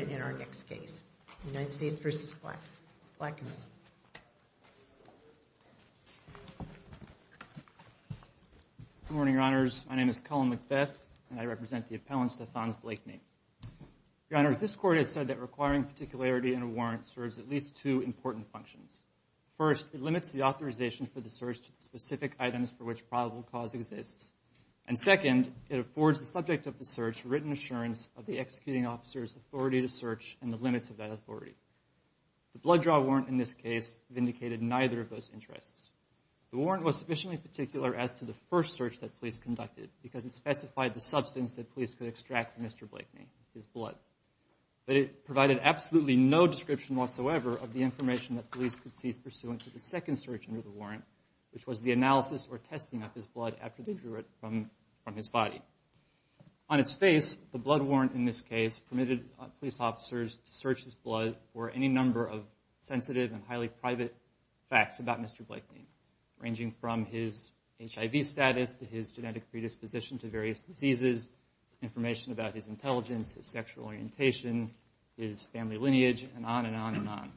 Good morning, Your Honors. My name is Cullen Macbeth, and I represent the appellants, Stephonze Blakeney. Your Honors, this Court has said that requiring particularity in a warrant serves at least two important functions. First, it limits the authorization for the search to the specific items for which probable cause exists. And second, it affords the subject of the search written assurance of the executing officer's authority to search and the limits of that authority. The blood draw warrant in this case vindicated neither of those interests. The warrant was sufficiently particular as to the first search that police conducted because it specified the substance that police could extract from Mr. Blakeney, his blood. But it provided absolutely no description whatsoever of the information that police could seize pursuant to the second search under the warrant, which was the analysis or testing of his blood after they drew it from his body. On its face, the blood warrant in this case permitted police officers to search his blood for any number of sensitive and highly private facts about Mr. Blakeney, ranging from his HIV status to his genetic predisposition to various diseases, information about his intelligence, his sexual orientation, his family lineage, and on and on and on.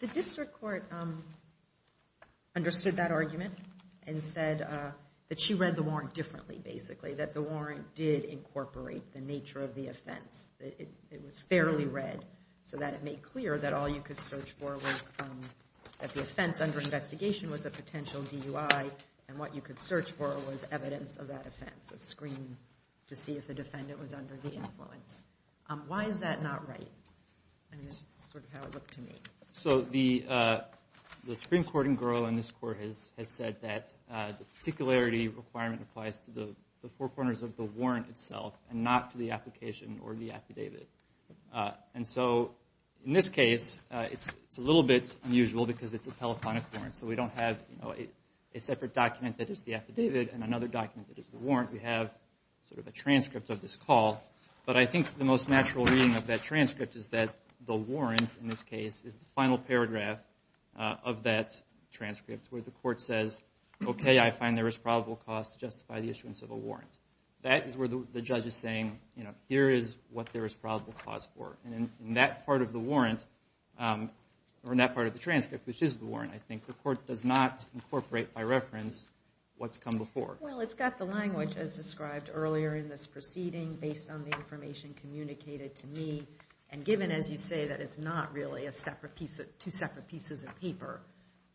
The district court understood that argument and said that she read the warrant differently, basically, that the warrant did incorporate the nature of the offense. It was fairly read so that it made clear that all you could search for was that the offense under investigation was a potential DUI, and what you could search for was evidence of that offense, a screen to see if the defendant was under the influence. Why is that not right? And this is sort of how it looked to me. So the Supreme Court in Gros and this court has said that the particularity requirement applies to the four corners of the warrant itself and not to the application or the affidavit. And so in this case, it's a little bit unusual because it's a telephonic warrant, so we don't have a separate document that is the affidavit and another document that is the warrant. We have sort of a transcript of this call, but I think the most natural reading of that transcript is that the warrant, in this case, is the final paragraph of that transcript where the court says, okay, I find there is probable cause to justify the issuance of a warrant. That is where the judge is saying, you know, here is what there is probable cause for. And in that part of the warrant, or in that part of the transcript, which is the warrant, I think, the court does not incorporate by reference what's come before. Well, it's got the language as described earlier in this proceeding based on the information communicated to me. And given, as you say, that it's not really a separate piece of two separate pieces of paper,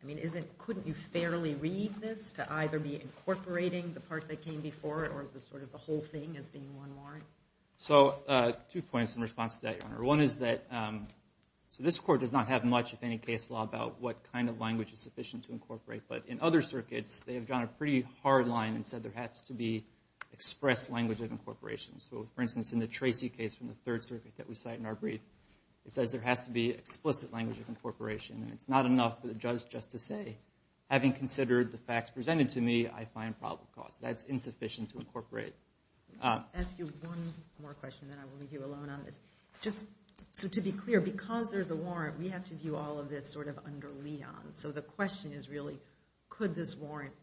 I mean, couldn't you fairly read this to either be incorporating the part that came before it or the sort of the whole thing as being one warrant? So two points in response to that, Your Honor. One is that so this court does not have much of any case law about what kind of language is sufficient to incorporate. But in other cases, the court has come in and said there has to be expressed language of incorporation. So, for instance, in the Tracy case from the Third Circuit that we cite in our brief, it says there has to be explicit language of incorporation. And it's not enough for the judge just to say, having considered the facts presented to me, I find probable cause. That's insufficient to incorporate. I'll ask you one more question, then I will leave you alone on this. Just to be clear, because there's a warrant, we have to view all of this sort of under Leon. So the question is really, could this warrant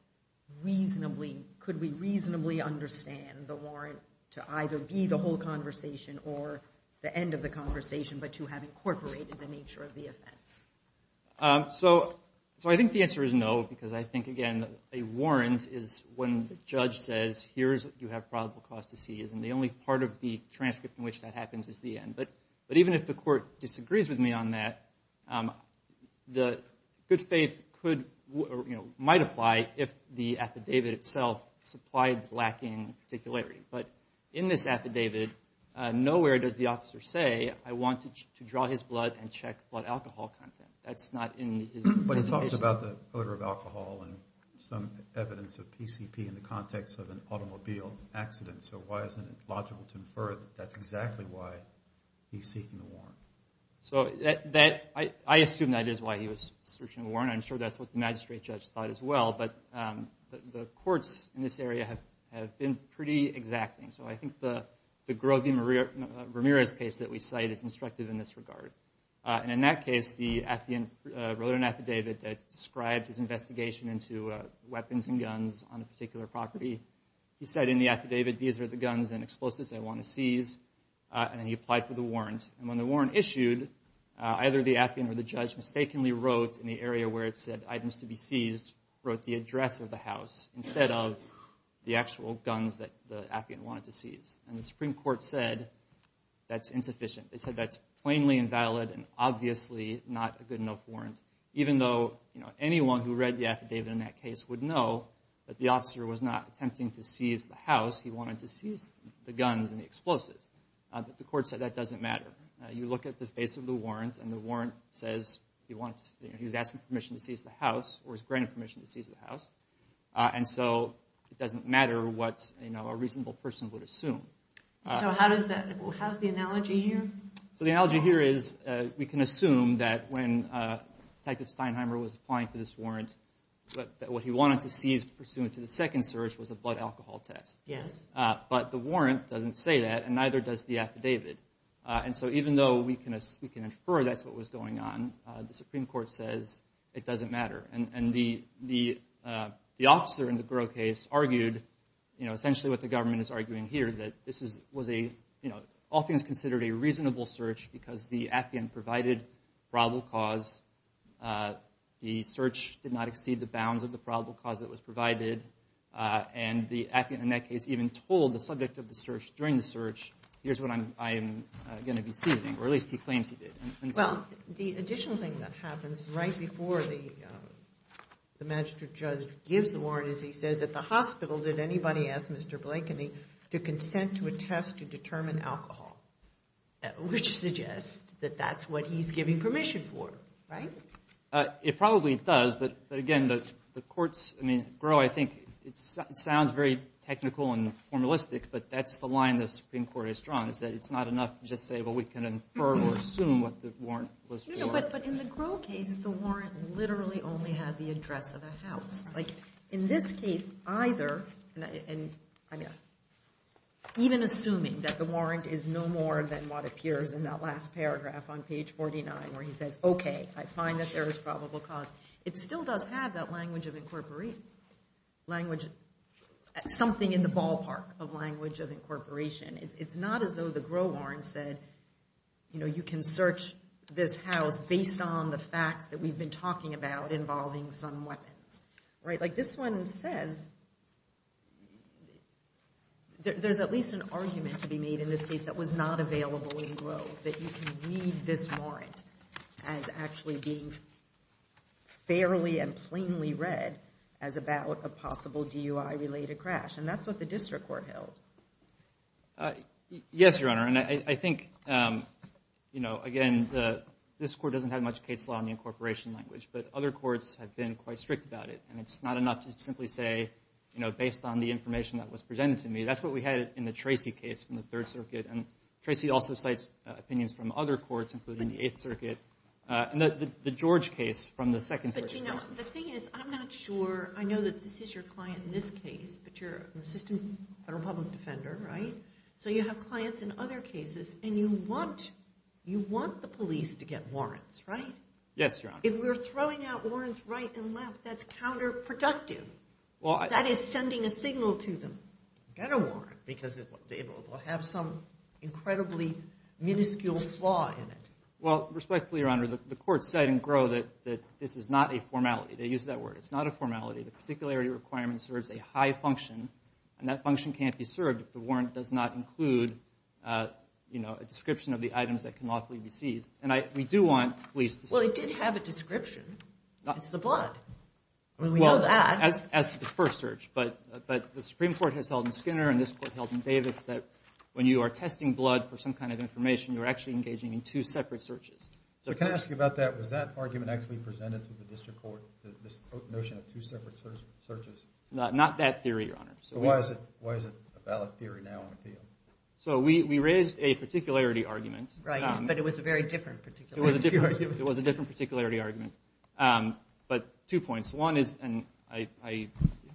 reasonably, could we reasonably understand the warrant to either be the whole conversation or the end of the conversation, but to have incorporated the nature of the offense? So, so I think the answer is no, because I think, again, a warrant is when the judge says, here's what you have probable cause to see. And the only part of the transcript in which that happens is the end. But, but even if the court disagrees with me on that, the good faith could, you know, might apply if the affidavit itself supplied the lacking particularity. But in this affidavit, nowhere does the officer say, I wanted to draw his blood and check blood alcohol content. That's not in his presentation. But it talks about the odor of alcohol and some evidence of PCP in the context of an automobile accident. So why isn't it logical to infer that that's exactly why he's seeking the warrant? So that, I assume that is why he was searching the warrant. I'm sure that's what the magistrate judge thought as well. But the courts in this area have, have been pretty exacting. So I think the, the Grovey-Ramirez case that we cite is instructive in this regard. And in that case, the affidavit, wrote an affidavit that described his investigation into weapons and guns on a particular property. He said in the affidavit, these are the guns and explosives I want to seize. And then he applied for the warrant. And when the warrant issued, either the appian or the judge mistakenly wrote in the area where it said items to be seized, wrote the address of the house instead of the actual guns that the appian wanted to seize. And the Supreme Court said that's insufficient. They said that's plainly invalid and obviously not a good enough warrant. Even though, you know, anyone who read the affidavit in that case would know that the officer was not attempting to seize the house. He wanted to seize the guns and the explosives. But the court said that doesn't matter. You look at the face of the warrant and the warrant says he wants, he was asking permission to seize the house or granted permission to seize the house. And so it doesn't matter what, you know, a reasonable person would assume. So how does that, how's the analogy here? So the analogy here is we can assume that when Detective Steinheimer was applying for this warrant, that what he wanted to seize pursuant to the second search was a blood alcohol test. But the warrant doesn't say that and neither does the affidavit. And so even though we can infer that's what was going on, the Supreme Court says it doesn't matter. And the officer in the Groh case argued, you know, essentially what the government is arguing here, that this was a, you know, all things considered a reasonable search because the appian provided probable cause. The search did not in that case even told the subject of the search during the search, here's what I'm going to be seizing, or at least he claims he did. Well, the additional thing that happens right before the magistrate judge gives the warrant is he says at the hospital, did anybody ask Mr. Blakeney to consent to a test to determine alcohol? Which suggests that that's what he's giving permission for, right? It probably does. But again, the courts, I mean, Groh, I think it sounds very technical and formalistic, but that's the line the Supreme Court has drawn, is that it's not enough to just say, well, we can infer or assume what the warrant was for. You know, but in the Groh case, the warrant literally only had the address of the house. Like in this case, either, even assuming that the warrant is no more than what appears in that last paragraph on page 49 where he says, okay, I find that there is probable cause, it still does have that language of incorporation, language, something in the ballpark of language of incorporation. It's not as though the Groh warrant said, you know, you can search this house based on the facts that we've been talking about involving some weapons, right? Like this one says, there's at least an argument to be made in this case that was not available in Groh that you can read this warrant as actually being fairly and plainly read as about a possible DUI-related crash. And that's what the district court held. Yes, Your Honor. And I think, you know, again, this court doesn't have much case law in the incorporation language, but other courts have been quite strict about it. And it's not enough to simply say, you know, based on the information that was presented to me, that's what we had in the Tracy case from the Third Circuit. Tracy also cites opinions from other courts, including the Eighth Circuit, and the George case from the Second Circuit. But you know, the thing is, I'm not sure, I know that this is your client in this case, but you're an assistant federal public defender, right? So you have clients in other cases, and you want, you want the police to get warrants, right? Yes, Your Honor. If we're throwing out warrants right and left, that's counterproductive. That is sending a signal to them, get a warrant, because they will have some incredibly minuscule flaw in it. Well, respectfully, Your Honor, the court said in Groh that this is not a formality. They use that word. It's not a formality. The particularity requirement serves a high function, and that function can't be served if the warrant does not include, you know, a description of the items that can lawfully be seized. And I, we do want police to... Well, it did have a description. It's the blood. Well, as to the first search, but the Supreme Court has held in Skinner, and this court held in Davis, that when you are testing blood for some kind of information, you're actually engaging in two separate searches. So can I ask you about that? Was that argument actually presented to the district court, this notion of two separate searches? Not that theory, Your Honor. So why is it, why is it a valid theory now on appeal? So we raised a particularity argument. Right, but it was a very different particularity argument. It was a different, it was a different particularity argument. But two points. One is, and I, if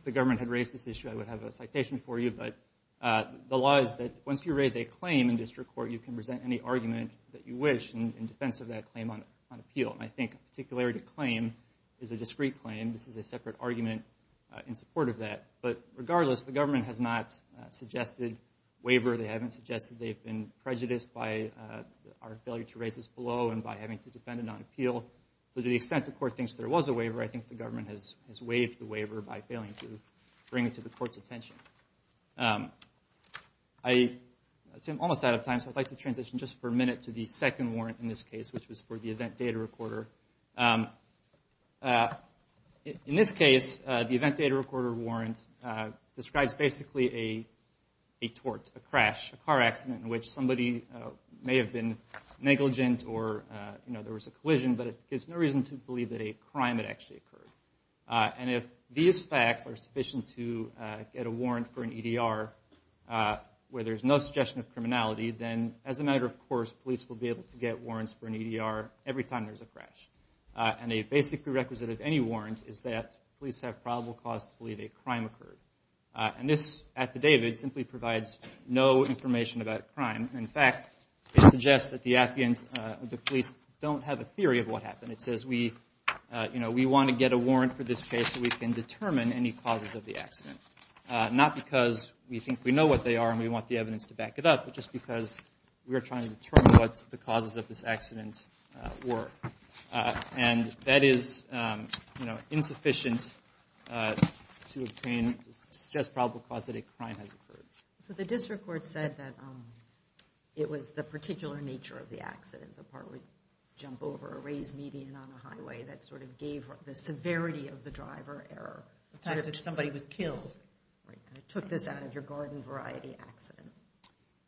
the government had raised this issue, I would have a citation for you. But the law is that once you raise a claim in district court, you can present any argument that you wish in defense of that claim on appeal. And I think a particularity claim is a discreet claim. This is a separate argument in support of that. But regardless, the government has not suggested waiver. They haven't suggested they've been prejudiced by our failure to raise this below and by having to defend it on appeal. So to the extent the court thinks there was a waiver, I think the government has no intention. I see I'm almost out of time. So I'd like to transition just for a minute to the second warrant in this case, which was for the event data recorder. In this case, the event data recorder warrant describes basically a tort, a crash, a car accident in which somebody may have been negligent or, you know, there was a collision, but it gives no reason to believe that a crime had actually occurred. And if these facts are sufficient to get a warrant for an EDR where there's no suggestion of criminality, then as a matter of course, police will be able to get warrants for an EDR every time there's a crash. And a basic prerequisite of any warrant is that police have probable cause to believe a crime occurred. And this affidavit simply provides no information about crime. In fact, it suggests that the police don't have a theory of what happened. It says we, you know, we want to get a warrant for this case so we can determine any causes of the accident, not because we think we know what they are and we want the evidence to back it up, but just because we are trying to determine what the causes of this accident were. And that is, you know, insufficient to obtain, to suggest probable cause that a crime has occurred. So the district court said that it was the particular nature of the accident. The part would jump over a raised median on a highway that sort of gave the severity of the driver error. It's not that somebody was killed. Right. And it took this out of your garden variety accident.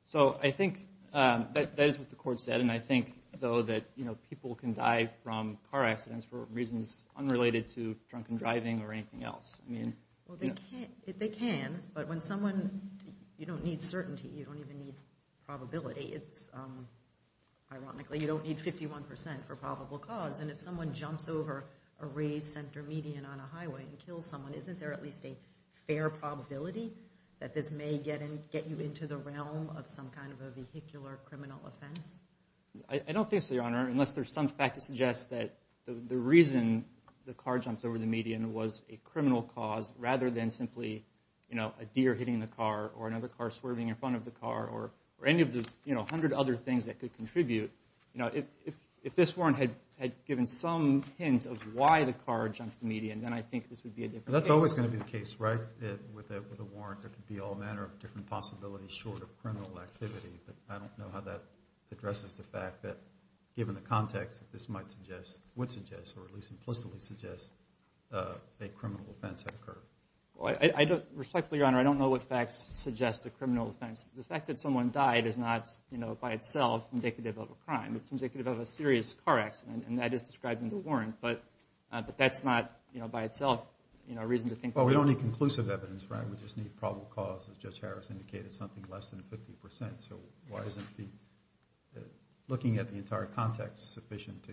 So I think that that is what the court said. And I think though that, you know, people can die from car accidents for reasons unrelated to drunken driving or anything else. I mean. Well, they can, they can, but when someone, you don't need certainty, you don't ironically, you don't need 51% for probable cause. And if someone jumps over a raised center median on a highway and kills someone, isn't there at least a fair probability that this may get and get you into the realm of some kind of a vehicular criminal offense? I don't think so, Your Honor, unless there's some fact to suggest that the reason the car jumped over the median was a criminal cause rather than simply, you know, a deer hitting the car or another car swerving in front of the car or, or you know, a hundred other things that could contribute, you know, if, if, if this warrant had given some hint of why the car jumped the median, then I think this would be a different case. That's always going to be the case, right? That with a, with a warrant, there could be all manner of different possibilities short of criminal activity. But I don't know how that addresses the fact that given the context that this might suggest, would suggest, or at least implicitly suggest a criminal offense had occurred. Well, I don't, respectfully, Your Honor, I don't know what facts suggest a criminal offense. The fact that someone died is not, you know, by itself indicative of a crime. It's indicative of a serious car accident, and that is described in the warrant, but, but that's not, you know, by itself, you know, a reason to think Well, we don't need conclusive evidence, right? We just need probable cause, as Judge Harris indicated, something less than 50%. So why isn't the, looking at the entire context sufficient to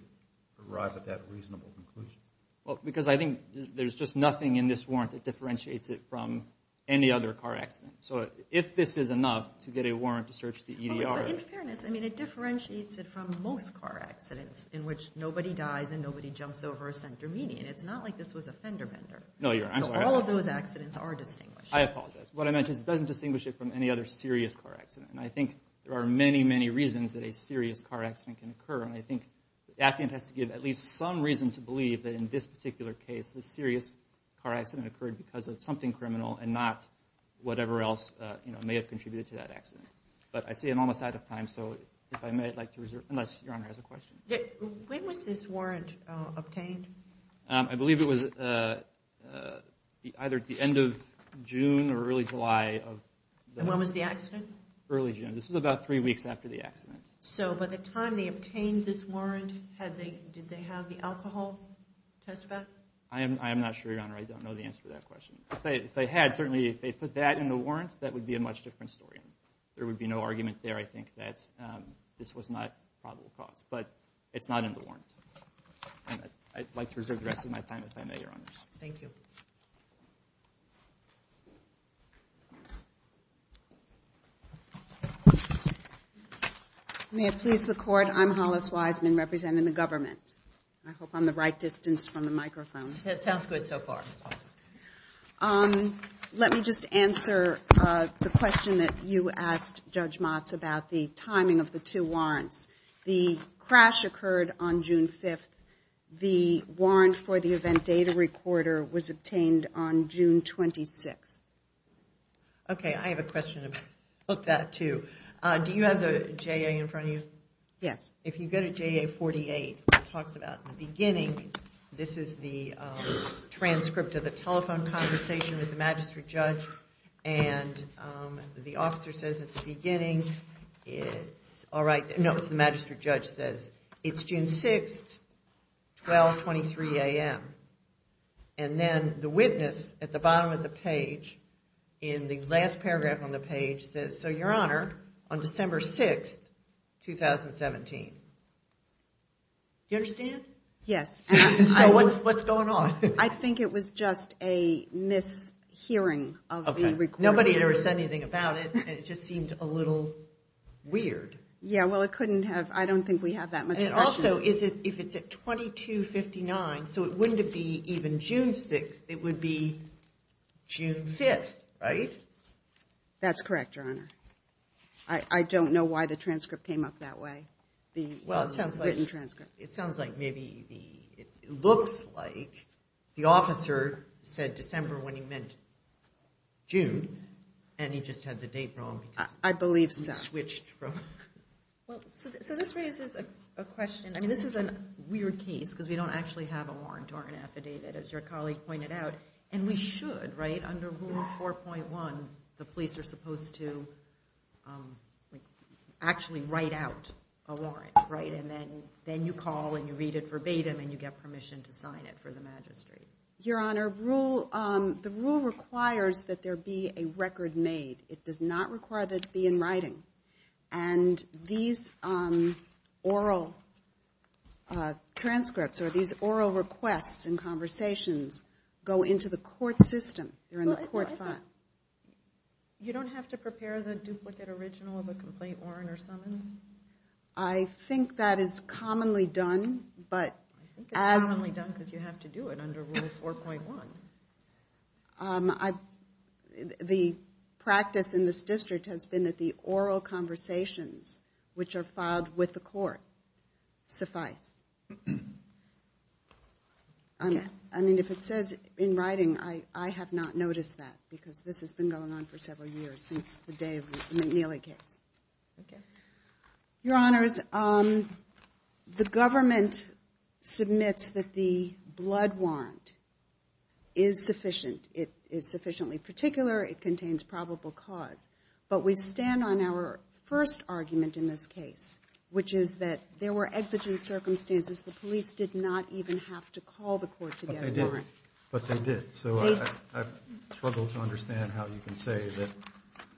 arrive at that reasonable conclusion? Well, because I think there's just nothing in this warrant that differentiates it from any other car accident. So if this is enough to get a warrant to search the EDR. In fairness, I mean, it differentiates it from most car accidents in which nobody dies and nobody jumps over a center median. It's not like this was a fender bender. No, Your Honor. So all of those accidents are distinguished. I apologize. What I meant is it doesn't distinguish it from any other serious car accident. And I think there are many, many reasons that a serious car accident can occur. And I think the affidavit has to give at least some reason to believe that in this particular case, the serious car accident occurred because of something or else, you know, may have contributed to that accident. But I see I'm almost out of time. So if I may, I'd like to reserve, unless Your Honor has a question. When was this warrant obtained? I believe it was either at the end of June or early July of the. When was the accident? Early June. This was about three weeks after the accident. So by the time they obtained this warrant, did they have the alcohol test back? I am not sure, Your Honor. I don't know the answer to that question. If they had, certainly if they put that in the warrant, that would be a much different story. There would be no argument there. I think that this was not probable cause, but it's not in the warrant. And I'd like to reserve the rest of my time if I may, Your Honors. Thank you. May it please the court. I'm Hollis Wiseman representing the government. I hope I'm the right distance from the microphone. That sounds good so far. Let me just answer the question that you asked, Judge Motz, about the timing of the two warrants. The crash occurred on June 5th. The warrant for the event data recorder was obtained on June 26th. Okay. I have a question about that too. Do you have the JA in front of you? Yes. If you go to JA 48, it talks about the beginning. This is the transcript of the telephone conversation with the magistrate judge. And the officer says at the beginning, it's all right. No, it's the magistrate judge says, it's June 6th, 12, 23 a.m. And then the witness at the bottom of the page, in the last paragraph on the page, says, so Your Honor, on December 6th, 2017. Do you understand? Yes. So what's going on? I think it was just a mishearing of the recording. Nobody ever said anything about it. It just seemed a little weird. Yeah. Well, it couldn't have. I don't think we have that much. And it also is, if it's at 2259, so it wouldn't be even June 6th, it would be June 5th, right? That's correct, Your Honor. I don't know why the transcript came up that way. The written transcript. It sounds like maybe the, it looks like the officer said December when he meant June, and he just had the date wrong. I believe so. He switched from. Well, so this raises a question. I mean, this is a weird case, because we don't actually have a warrant or an affidavit, as your colleague pointed out. And we should, right? Under Rule 4.1, the police are supposed to actually write out a warrant, right? And then you call, and you read it verbatim, and you get permission to sign it for the magistrate. Your Honor, the rule requires that there be a record made. It does not require that it be in writing. And these oral transcripts, or these oral requests and conversations, go into the court system. They're in the court file. You don't have to prepare the duplicate original of a complaint warrant or summons? I think that is commonly done, but as. I think it's commonly done because you have to do it under Rule 4.1. The practice in this district has been that the oral conversations, which are filed with the court, suffice. I mean, if it says in writing, I have not noticed that, because this has been going on for several years, since the Dave McNeely case. Your Honors, the government submits that the blood warrant is sufficient. It is sufficiently particular. It contains probable cause. But we stand on our first argument in this case, which is that there were exigent circumstances. The police did not even have to call the court to get a warrant. But they did. So, I struggle to understand how you can say that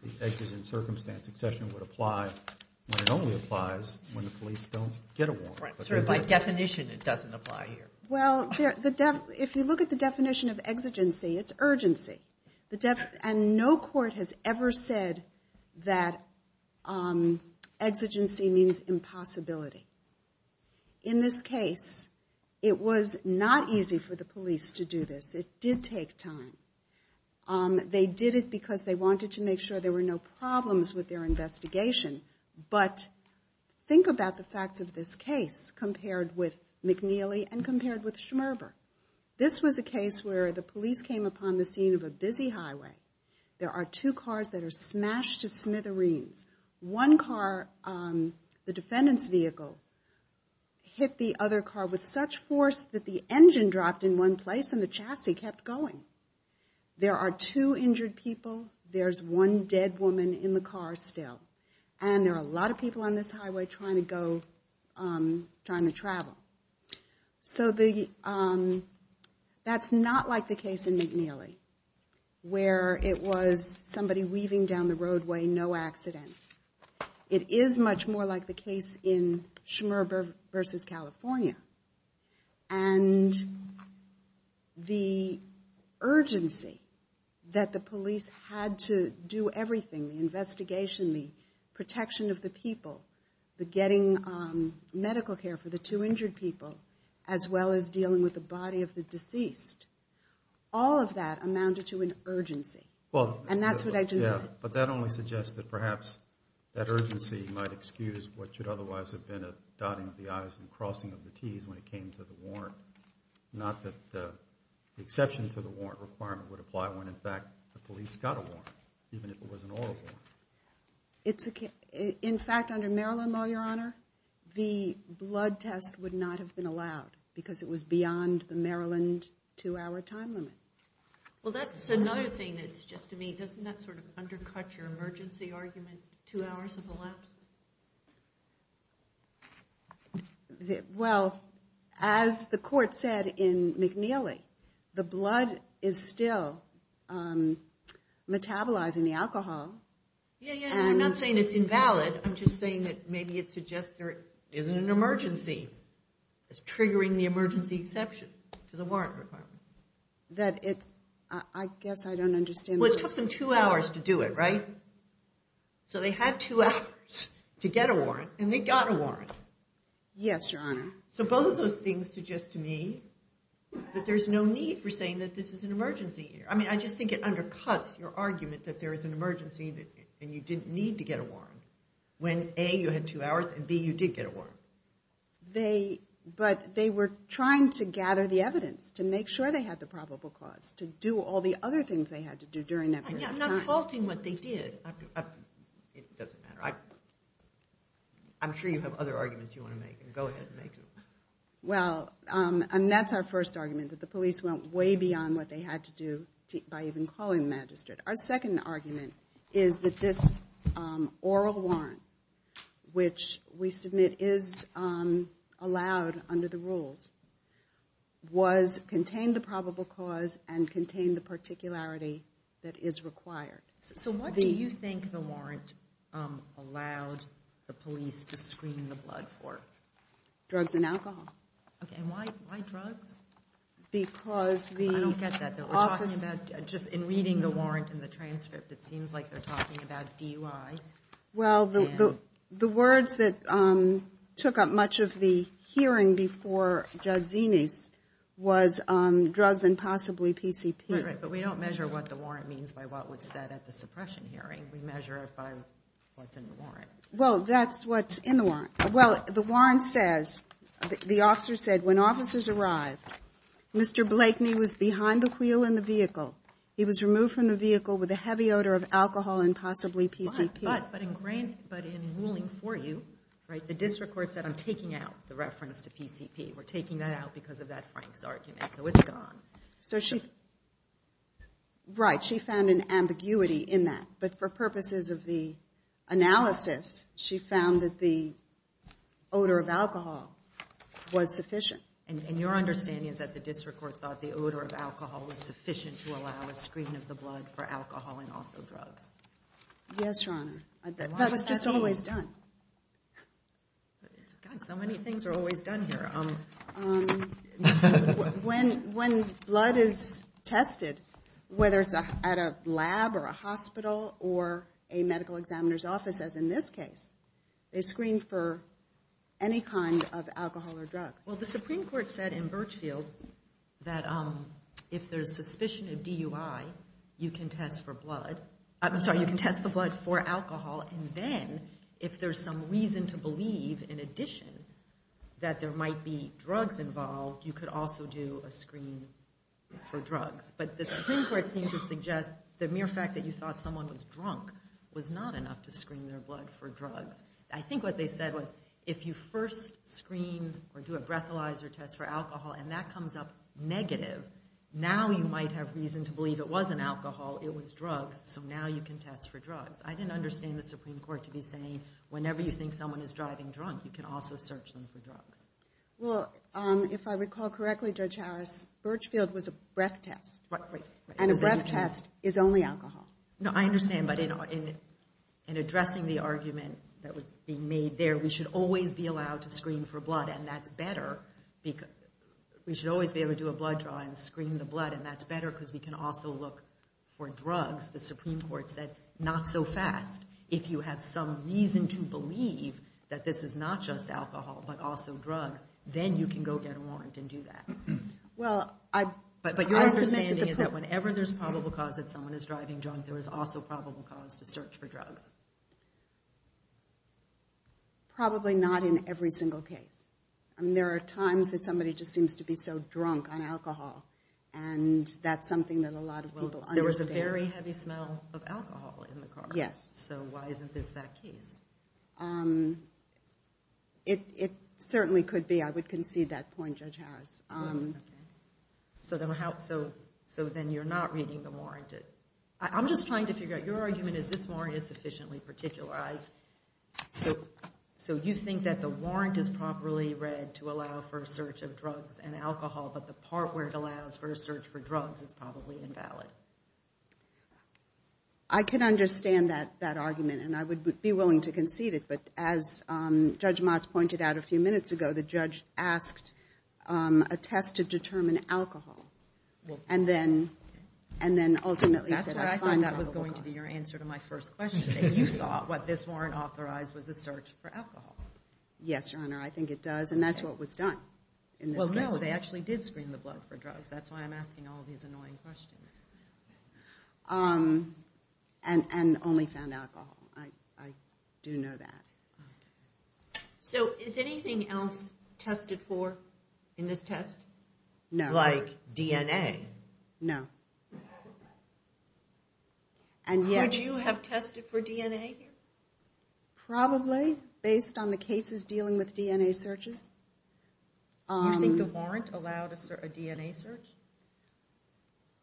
the exigent circumstance exception would apply when it only applies when the police don't get a warrant. Right. So, by definition, it doesn't apply here. Well, if you look at the definition of exigency, it's urgency. And no court has ever said that exigency means impossibility. In this case, it was not easy for the police to do this. It did take time. They did it because they wanted to make sure there were no problems with their investigation. But think about the facts of this case compared with McNeely and compared with Schmerber. This was a case where the police came upon the scene of a busy highway. There are two cars that are smashed to smithereens. One car, the defendant's vehicle, hit the other car with such force that the engine dropped in one place and the chassis kept going. There are two injured people. There's one dead woman in the car still. And there are a lot of people on this highway trying to go, trying to travel. So, that's not like the case in McNeely, where it was somebody weaving down the roadway, no accident. It is much more like the case in Schmerber versus California. And the urgency that the police had to do everything, the investigation, the protection of the people, the getting medical care for the two injured people, as well as dealing with the body of the deceased. All of that amounted to an urgency. Well, and that's what I just said. But that only suggests that perhaps that urgency might excuse what should otherwise have been a dotting of the i's and crossing of the t's when it came to the warrant. Not that the exception to the warrant requirement would apply when, in fact, the police got a warrant, even if it was an oral warrant. It's, in fact, under Maryland law, Your Honor, the blood test would not have been allowed because it was beyond the Maryland two-hour time limit. Well, that's another thing that's just to me, doesn't that sort of undercut your emergency argument, two hours of a lapse? Well, as the court said in McNeely, the blood is still metabolizing the alcohol. Yeah, yeah, I'm not saying it's invalid. I'm just saying that maybe it suggests there isn't an emergency. It's triggering the emergency exception to the warrant requirement. That it, I guess I don't understand. Well, it took them two hours to do it, right? So they had two hours to get a warrant, and they got a warrant. Yes, Your Honor. So both of those things suggest to me that there's no need for saying that this is an emergency here. I mean, I just think it undercuts your argument that there is an emergency and you didn't need to get a warrant when, A, you had two hours, and, B, you did get a warrant. They, but they were trying to gather the evidence to make sure they had the probable cause to do all the other things they had to do during that period of time. But you're defaulting what they did. It doesn't matter. I'm sure you have other arguments you want to make, and go ahead and make them. Well, and that's our first argument, that the police went way beyond what they had to do by even calling the magistrate. Our second argument is that this oral warrant, which we submit is allowed under the rules, was, contained the probable cause and contained the particularity that is required. So what do you think the warrant allowed the police to screen the blood for? Drugs and alcohol. Because the office... I don't get that. We're talking about, just in reading the warrant and the transcript, it seems like they're talking about DUI. Well, the words that took up much of the hearing before Judge Zinis was drugs and possibly PCP. Right, right. But we don't measure what the warrant means by what was said at the suppression hearing. We measure it by what's in the warrant. Well, that's what's in the warrant. Well, the warrant says, the officer said, when officers arrived, Mr. Blakeney was behind the wheel in the vehicle. He was removed from the vehicle with a heavy odor of alcohol and possibly PCP. But in ruling for you, right, the district court said, I'm taking out the reference to PCP. We're taking that out because of that Frank's argument. So it's gone. So she, right, she found an ambiguity in that. But for purposes of the analysis, she found that the odor of alcohol was sufficient. And your understanding is that the district court thought the odor of alcohol was sufficient to allow a screen of the blood for alcohol and also drugs? Yes, Your Honor. That was just always done. God, so many things are always done here. When blood is tested, whether it's at a lab or a hospital or a medical examiner's office, as in this case, they screen for any kind of alcohol or drug. Well, the Supreme Court said in Birchfield that if there's suspicion of DUI, you can test for blood. I'm sorry, you can test the blood for alcohol. And then if there's some reason to believe, in addition, that there might be drugs involved, you could also do a screen for drugs. But the Supreme Court seemed to suggest the mere fact that you thought someone was drunk was not enough to screen their blood for drugs. I think what they said was if you first screen or do a breathalyzer test for alcohol and that comes up negative, now you might have reason to believe it wasn't alcohol, it was drugs. So now you can test for drugs. I didn't understand the Supreme Court to be saying, whenever you think someone is driving drunk, you can also search them for drugs. Well, if I recall correctly, Judge Harris, Birchfield was a breath test. And a breath test is only alcohol. No, I understand. But in addressing the argument that was being made there, we should always be allowed to screen for blood. And that's better. We should always be able to do a blood draw and screen the blood. And that's better because we can also look for drugs. The Supreme Court said not so fast. If you have some reason to believe that this is not just alcohol but also drugs, then you can go get a warrant and do that. Well, I... But your understanding is that whenever there's probable cause that someone is driving drunk, there is also probable cause to search for drugs. Probably not in every single case. There are times that somebody just seems to be so drunk on alcohol. And that's something that a lot of people understand. Very heavy smell of alcohol in the car. Yes. So why isn't this that case? It certainly could be. I would concede that point, Judge Harris. So then you're not reading the warrant. I'm just trying to figure out... Your argument is this warrant is sufficiently particularized. So you think that the warrant is properly read to allow for a search of drugs and alcohol, but the part where it allows for a search for drugs is probably invalid. I can understand that argument, and I would be willing to concede it. But as Judge Motz pointed out a few minutes ago, the judge asked a test to determine alcohol. And then ultimately said, I find probable cause. That's why I thought that was going to be your answer to my first question, that you thought what this warrant authorized was a search for alcohol. Yes, Your Honor, I think it does. And that's what was done in this case. Well, no, they actually did screen the blood for drugs. That's why I'm asking all these annoying questions. Um, and only found alcohol. I do know that. So is anything else tested for in this test? No. Like DNA? No. Would you have tested for DNA here? Probably, based on the cases dealing with DNA searches. You think the warrant allowed a DNA search?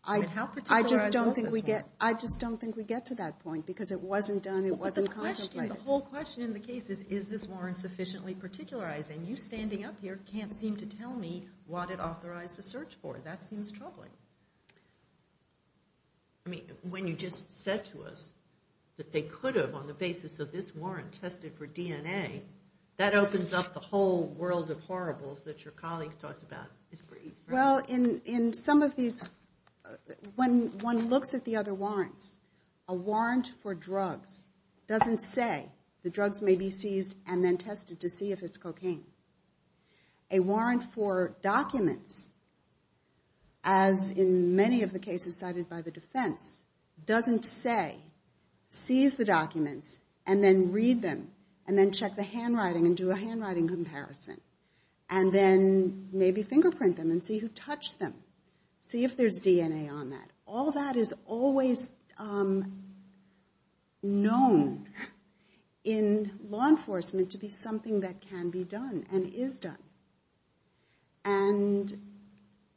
I just don't think we get to that point, because it wasn't done, it wasn't contemplated. But the question, the whole question in the case is, is this warrant sufficiently particularized? And you standing up here can't seem to tell me what it authorized a search for. That seems troubling. I mean, when you just said to us that they could have, on the basis of this warrant, tested for DNA, that opens up the whole world of horribles that your colleague talked about. Well, in some of these, when one looks at the other warrants, a warrant for drugs doesn't say the drugs may be seized and then tested to see if it's cocaine. A warrant for documents, as in many of the cases cited by the defense, doesn't say, seize the documents and then read them, and then check the handwriting and do a handwriting comparison. And then maybe fingerprint them and see who touched them. See if there's DNA on that. All that is always known in law enforcement to be something that can be done and is done. And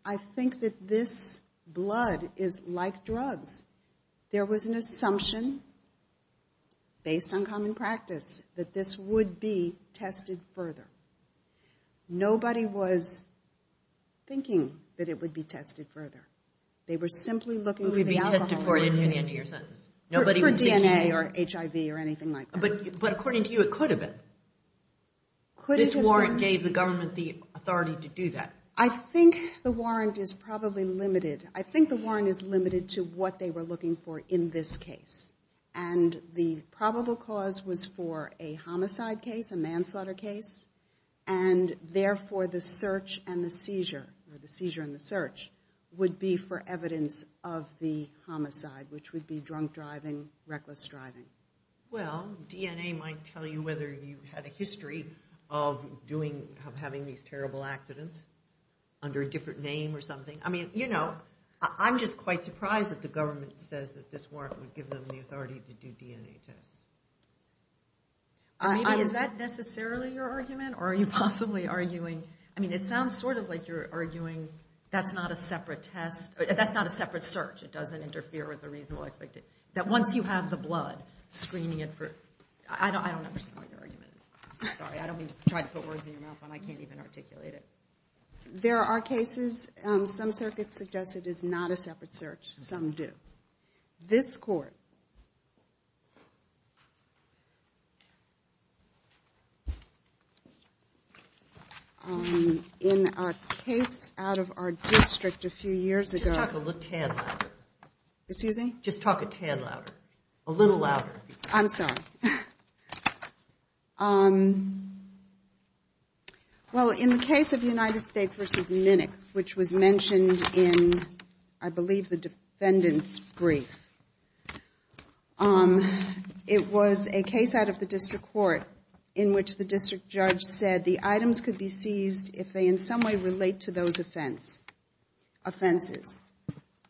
I think that this blood is like drugs. There was an assumption, based on common practice, that this would be tested further. Nobody was thinking that it would be tested further. They were simply looking for the alcohol. Who would it be tested for at the end of your sentence? For DNA or HIV or anything like that. But according to you, it could have been. This warrant gave the government the authority to do that. I think the warrant is probably limited. I think the warrant is limited to what they were looking for in this case. And the probable cause was for a homicide case, a manslaughter case. And therefore, the search and the seizure, or the seizure and the search, would be for evidence of the homicide, which would be drunk driving, reckless driving. Well, DNA might tell you whether you had a history of having these terrible accidents under a different name or something. I mean, you know, I'm just quite surprised that the government says that this warrant would give them the authority to do DNA tests. I mean, is that necessarily your argument? Or are you possibly arguing... I mean, it sounds sort of like you're arguing that's not a separate test. That's not a separate search. It doesn't interfere with the reasonable expectation. That once you have the blood, screening it for... I don't understand what your argument is. I'm sorry. I don't mean to try to put words in your mouth when I can't even articulate it. There are cases, some circuits suggest it is not a separate search. Some do. This court... In a case out of our district a few years ago... Just talk a little tad louder. Excuse me? Just talk a tad louder. A little louder. I'm sorry. Well, in the case of United States v. Minick, which was mentioned in, I believe, the defendant's brief, it was a case out of the district court in which the district judge said the items could be seized if they in some way relate to those offenses.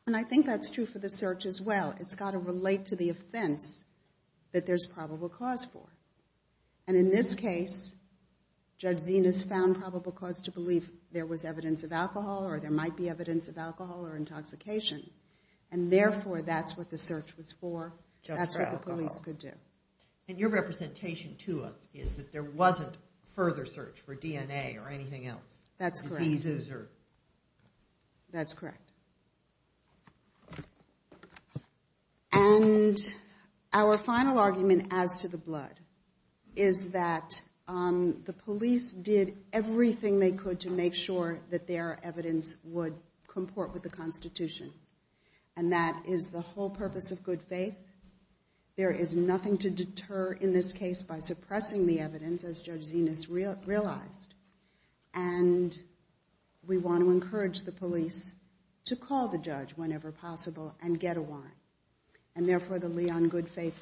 And I think that's true for the search as well. It's got to relate to the offense that there's probable cause for. And in this case, Judge Zenas found probable cause to believe there was evidence of alcohol or there might be evidence of alcohol or intoxication. And therefore, that's what the search was for. That's what the police could do. And your representation to us is that there wasn't further search for DNA or anything else? That's correct. That's correct. And our final argument as to the blood is that the police did everything they could to make sure that their evidence would comport with the Constitution. And that is the whole purpose of good faith. There is nothing to deter in this case by suppressing the evidence, as Judge Zenas realized. And we want to encourage the police to call the judge whenever possible and get a warrant. And therefore, the lee on good faith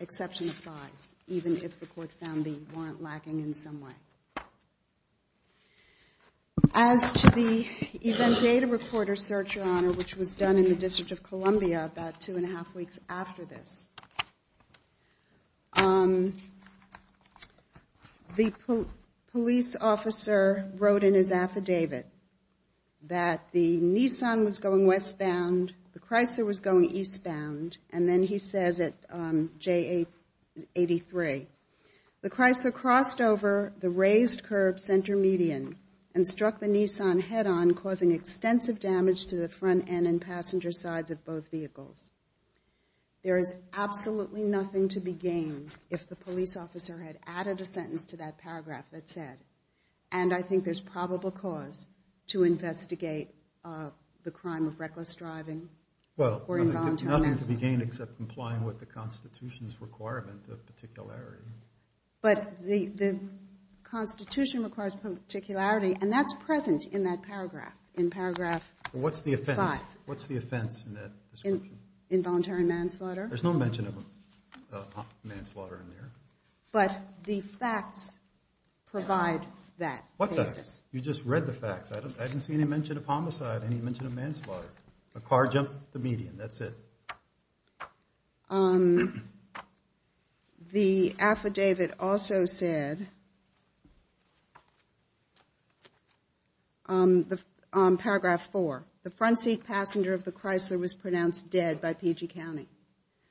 exception applies, even if the court found the warrant lacking in some way. As to the event data recorder search, Your Honor, which was done in the District of Columbia about two and a half weeks after this, the police officer wrote in his affidavit that the Nissan was going westbound, the Chrysler was going eastbound. And then he says at J83, the Chrysler crossed over the raised curb center median and struck the Nissan head-on causing extensive damage to the front end and passenger sides of both vehicles. There is absolutely nothing to be gained if the police officer had added a sentence to that paragraph that said, and I think there's probable cause to investigate the crime of reckless driving. Well, nothing to be gained except complying with the Constitution's requirement of particularity. But the Constitution requires particularity, and that's present in that paragraph, in paragraph five. What's the offense in that description? Involuntary manslaughter. There's no mention of manslaughter in there. But the facts provide that. What facts? You just read the facts. I didn't see any mention of homicide, any mention of manslaughter. A car jumped the median, that's it. The affidavit also said, on paragraph four, the front seat passenger of the Chrysler was pronounced dead by PG County.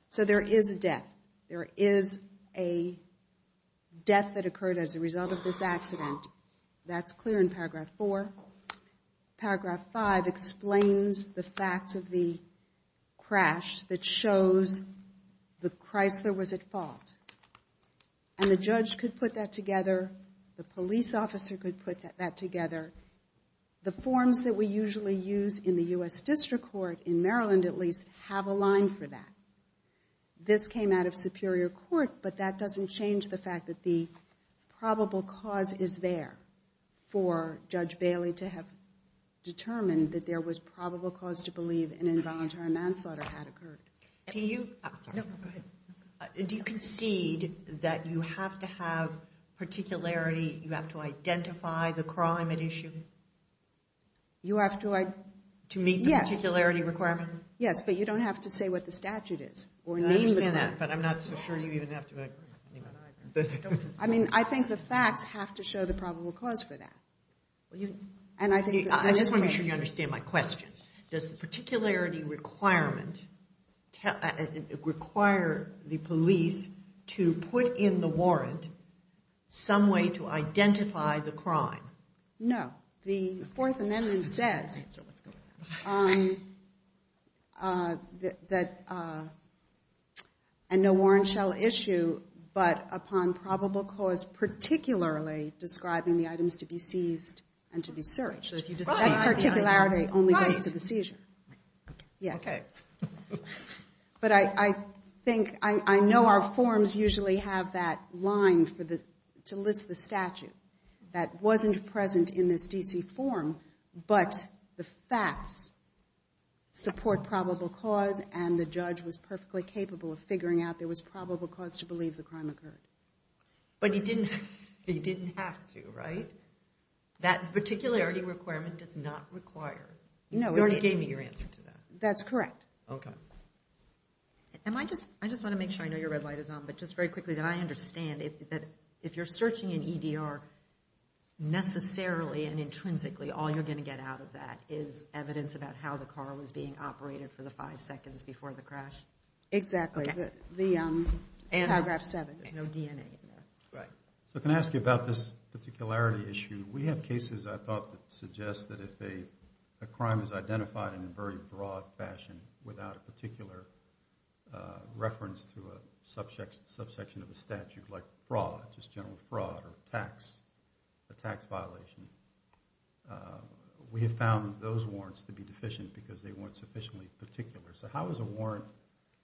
So there is a death. There is a death that occurred as a result of this accident. That's clear in paragraph four. Paragraph five explains the facts of the crash that shows the Chrysler was at fault. And the judge could put that together. The police officer could put that together. The forms that we usually use in the U.S. District Court, in Maryland at least, have a line for that. This came out of Superior Court, but that doesn't change the fact that the probable cause is there for Judge Bailey to have determined that there was probable cause to believe an involuntary manslaughter had occurred. Do you concede that you have to have particularity, you have to identify the crime at issue? You have to... To meet the particularity requirement? Yes, but you don't have to say what the statute is or name the crime. But I'm not so sure you even have to... I mean, I think the facts have to show the probable cause for that. And I think... I just want to make sure you understand my question. Does the particularity requirement require the police to put in the warrant some way to identify the crime? No. The Fourth Amendment says that... And no warrant shall issue but upon probable cause particularly describing the items to be seized and to be searched. So if you just say... That particularity only goes to the seizure. Yes. But I think... I know our forms usually have that line to list the statute that wasn't present in this D.C. form, but the facts support probable cause and the judge was perfectly capable of figuring out there was probable cause to believe the crime occurred. But he didn't have to, right? That particularity requirement does not require... No. You already gave me your answer to that. That's correct. Okay. I just want to make sure I know your red light is on, but just very quickly that I understand that if you're searching an EDR necessarily and intrinsically, all you're going to get out of that is evidence about how the car was being operated for the five seconds before the crash? Exactly. The paragraph seven. There's no DNA in there. Right. So can I ask you about this particularity issue? We have cases I thought that suggest that if a crime is identified in a very broad fashion without a particular reference to a subsection of a statute like fraud, just general fraud or a tax violation, we have found those warrants to be deficient because they weren't sufficiently particular. So how is a warrant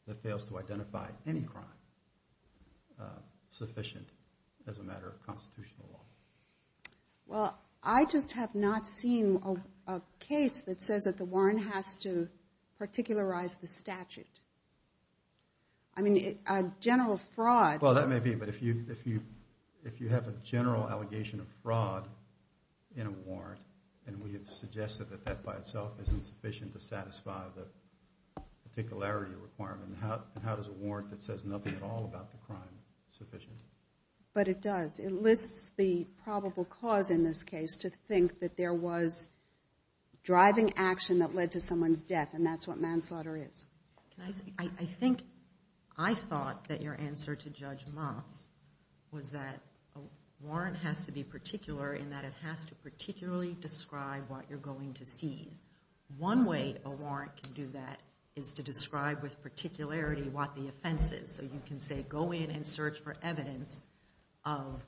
that fails to identify any crime sufficient as a matter of constitutional law? Well, I just have not seen a case that says that the warrant has to particularize the statute. I mean, a general fraud... Well, that may be. But if you have a general allegation of fraud in a warrant and we have suggested that that by itself isn't sufficient to satisfy the particularity requirement, how does a warrant that says nothing at all about the crime sufficient? But it does. It lists the probable cause in this case to think that there was driving action that led to someone's death. And that's what manslaughter is. I think I thought that your answer to Judge Moss was that a warrant has to be particular in that it has to particularly describe what you're going to seize. One way a warrant can do that is to describe with particularity what the offense is. So you can say, go in and search for evidence of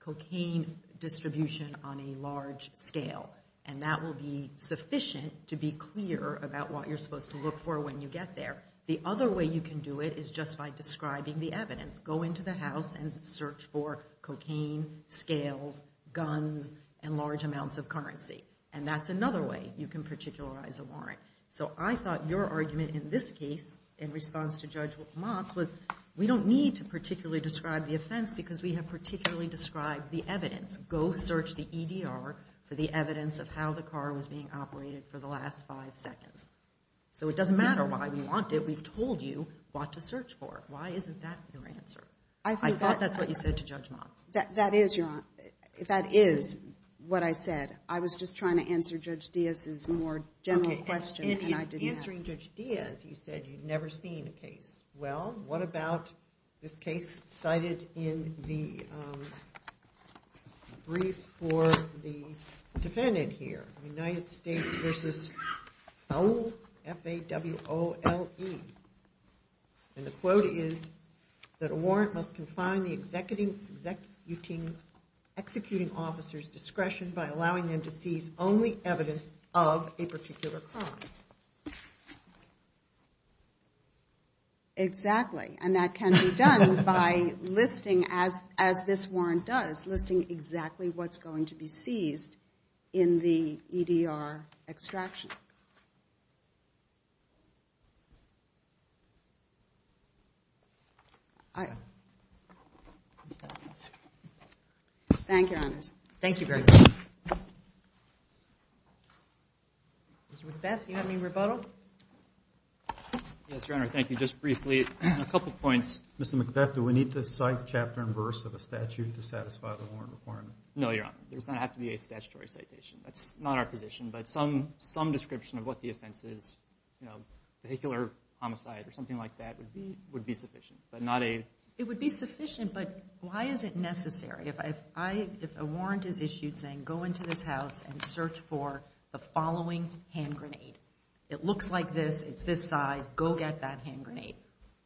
cocaine distribution on a large scale. And that will be sufficient to be clear about what you're supposed to look for when you get there. The other way you can do it is just by describing the evidence. Go into the house and search for cocaine, scales, guns, and large amounts of currency. And that's another way you can particularize a warrant. So I thought your argument in this case in response to Judge Moss was we don't need to particularly describe the offense because we have particularly described the evidence. Go search the EDR for the evidence of how the car was being operated for the last five seconds. So it doesn't matter why we want it. We've told you what to search for. Why isn't that your answer? I thought that's what you said to Judge Moss. That is, Your Honor. That is what I said. I was just trying to answer Judge Diaz's more general question, and I didn't have it. In answering Judge Diaz, you said you'd never seen a case. Well, what about this case cited in the brief for the defendant here, United States v. F.A.W.O.L.E.? And the quote is that a warrant must confine the executing officer's discretion by allowing them to seize only evidence of a particular crime. Exactly. And that can be done by listing, as this warrant does, listing exactly what's going to be seized in the EDR extraction. Thank you, Your Honors. Thank you very much. Mr. McBeth, do you have any rebuttal? Yes, Your Honor. Thank you. Just briefly, a couple points. Mr. McBeth, do we need to cite chapter and verse of a statute to satisfy the warrant requirement? No, Your Honor. There doesn't have to be a statutory citation. That's not our position, but some description of what the offense is, you know, vehicular homicide or something like that would be sufficient, but not a... It would be sufficient, but why is it necessary? If a warrant is issued saying, go into this house and search for the following hand grenade. It looks like this. It's this size. Go get that hand grenade.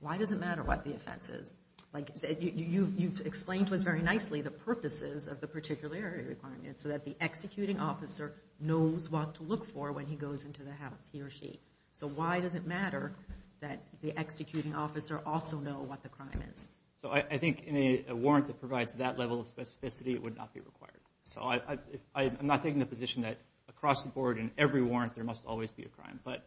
Why does it matter what the offense is? Like you've explained to us very nicely the purposes of the particularity requirement so that the executing officer knows what to look for when he goes into the house, he or she. So why does it matter that the executing officer also know what the crime is? So I think in a warrant that provides that level of specificity, it would not be required. So I'm not taking the position that across the board in every warrant, there must always be a crime, but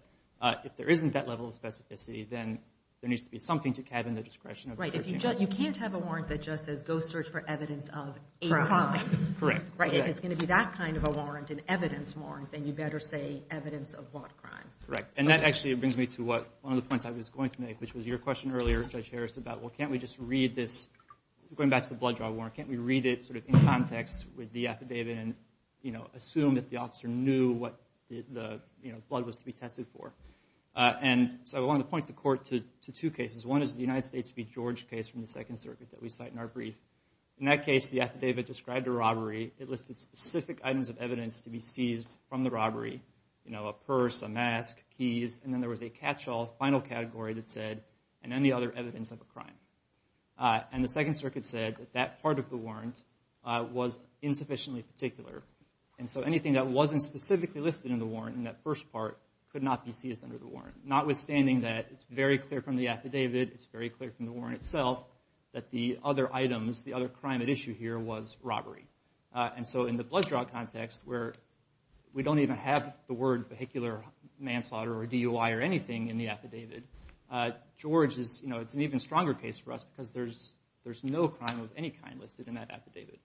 if there isn't that level of specificity, then there needs to be something to cabin the discretion of... Right. You can't have a warrant that just says, go search for evidence of a crime. Correct. If it's going to be that kind of a warrant, an evidence warrant, then you better say evidence of what crime. Correct. And that actually brings me to one of the points I was going to make, which was your question earlier, Judge Harris, about, well, can't we just read this? Going back to the blood draw warrant, can't we read it sort of in context with the affidavit and assume that the officer knew what the blood was to be tested for? And so I want to point the court to two cases. One is the United States v. George case from the Second Circuit that we cite in our brief. In that case, the affidavit described a robbery. It listed specific items of evidence to be seized from the robbery. You know, a purse, a mask, keys, and then there was a catch-all final category that said, and then the other evidence of a crime. And the Second Circuit said that that part of the warrant was insufficiently particular. And so anything that wasn't specifically listed in the warrant in that first part could not be seized under the warrant, notwithstanding that it's very clear from the affidavit, it's very clear from the warrant itself that the other items, the other crime at issue here was robbery. And so in the blood draw context where we don't even have the word vehicular manslaughter or DUI or anything in the affidavit, George is, you know, it's an even stronger case for us because there's no crime of any kind listed in that affidavit.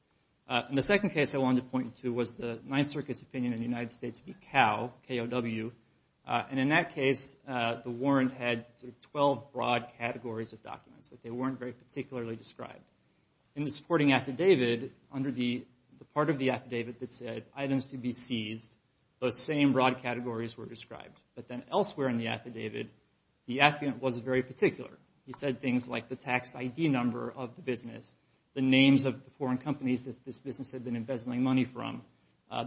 And the second case I wanted to point to was the Ninth Circuit's opinion in the United States v. Cow, K-O-W. And in that case, the warrant had sort of 12 broad categories of documents, but they weren't very particularly described. In the supporting affidavit, under the part of the affidavit that said items to be seized, those same broad categories were described. But then elsewhere in the affidavit, the affidavit wasn't very particular. He said things like the tax ID number of the business, the names of the foreign companies that this business had been embezzling money from,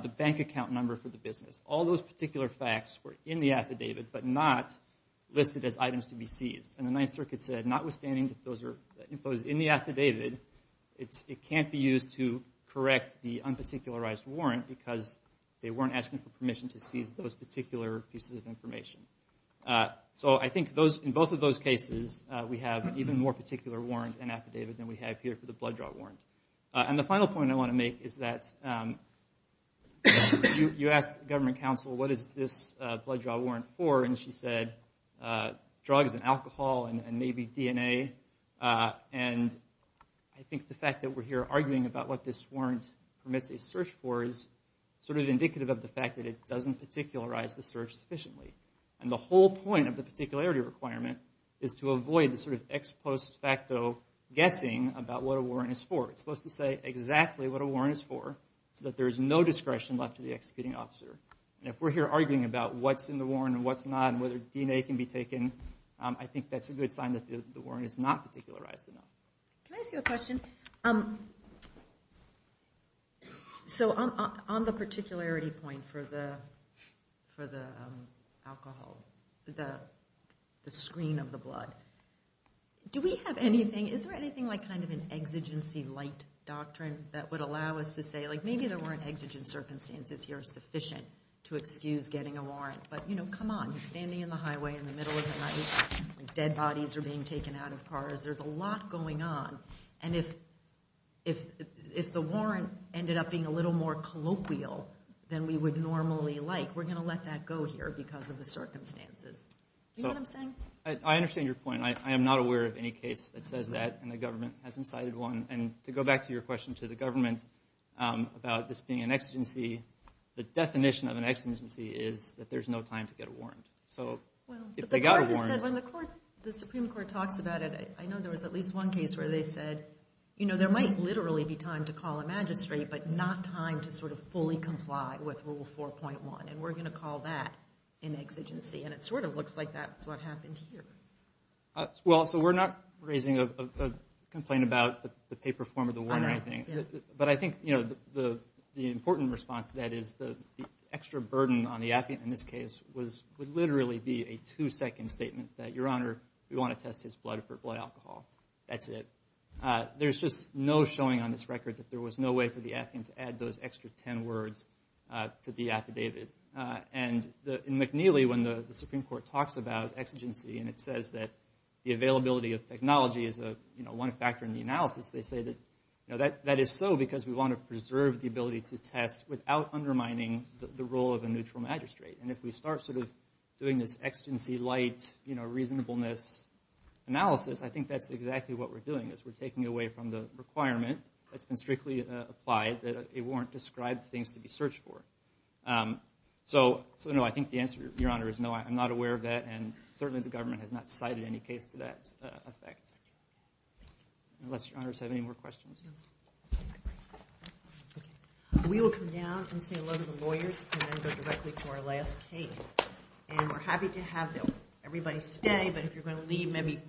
the bank account number for the business. All those particular facts were in the affidavit, but not listed as items to be seized. And the Ninth Circuit said, notwithstanding that those are imposed in the affidavit, it can't be used to correct the unparticularized warrant because they weren't asking for permission to seize those particular pieces of information. So I think in both of those cases, we have even more particular warrant and affidavit than we have here for the blood draw warrant. And the final point I want to make is that you asked government counsel, what is this blood draw warrant for? And she said, drugs and alcohol and maybe DNA. And I think the fact that we're here arguing about what this warrant permits a search for is sort of indicative of the fact that it doesn't particularize the search sufficiently. And the whole point of the particularity requirement is to avoid the sort of ex post facto guessing about what a warrant is for. It's supposed to say exactly what a warrant is for so that there is no discretion left to the executing officer. And if we're here arguing about what's in the warrant and what's not, whether DNA can be taken, I think that's a good sign that the warrant is not particularized enough. Can I ask you a question? So on the particularity point for the alcohol, the screen of the blood, do we have anything, is there anything like kind of an exigency light doctrine that would allow us to say, like maybe there were an exigent circumstances here sufficient to excuse getting a warrant. But you know, come on, standing in the highway in the middle of the night, dead bodies are being taken out of cars. There's a lot going on. And if the warrant ended up being a little more colloquial than we would normally like, we're going to let that go here because of the circumstances. Do you know what I'm saying? I understand your point. I am not aware of any case that says that and the government hasn't cited one. And to go back to your question to the government about this being an exigency, the definition of an exigency is that there's no time to get a warrant. So if they got a warrant. When the Supreme Court talks about it, I know there was at least one case where they said, you know, there might literally be time to call a magistrate, but not time to sort of fully comply with Rule 4.1. And we're going to call that an exigency. And it sort of looks like that's what happened here. Well, so we're not raising a complaint about the paper form of the warrant or anything. But I think the important response to that is the extra burden on the applicant in this case would literally be a two-second statement that, Your Honor, we want to test his blood for blood alcohol. That's it. There's just no showing on this record that there was no way for the applicant to add those extra 10 words to the affidavit. And in McNeely, when the Supreme Court talks about exigency and it says that the availability of technology is one factor in the analysis, they say that that is so because we want to preserve the ability to test without undermining the role of a neutral magistrate. And if we start sort of doing this exigency light, you know, reasonableness analysis, I think that's exactly what we're doing is we're taking away from the requirement that's been strictly applied that a warrant described things to be searched for. So, no, I think the answer, Your Honor, is no, I'm not aware of that. And certainly the government has not cited any case to that effect. Unless Your Honors have any more questions. We will come down and see a load of the lawyers and then go directly to our last case. And we're happy to have everybody stay, but if you're going to leave, maybe quiet.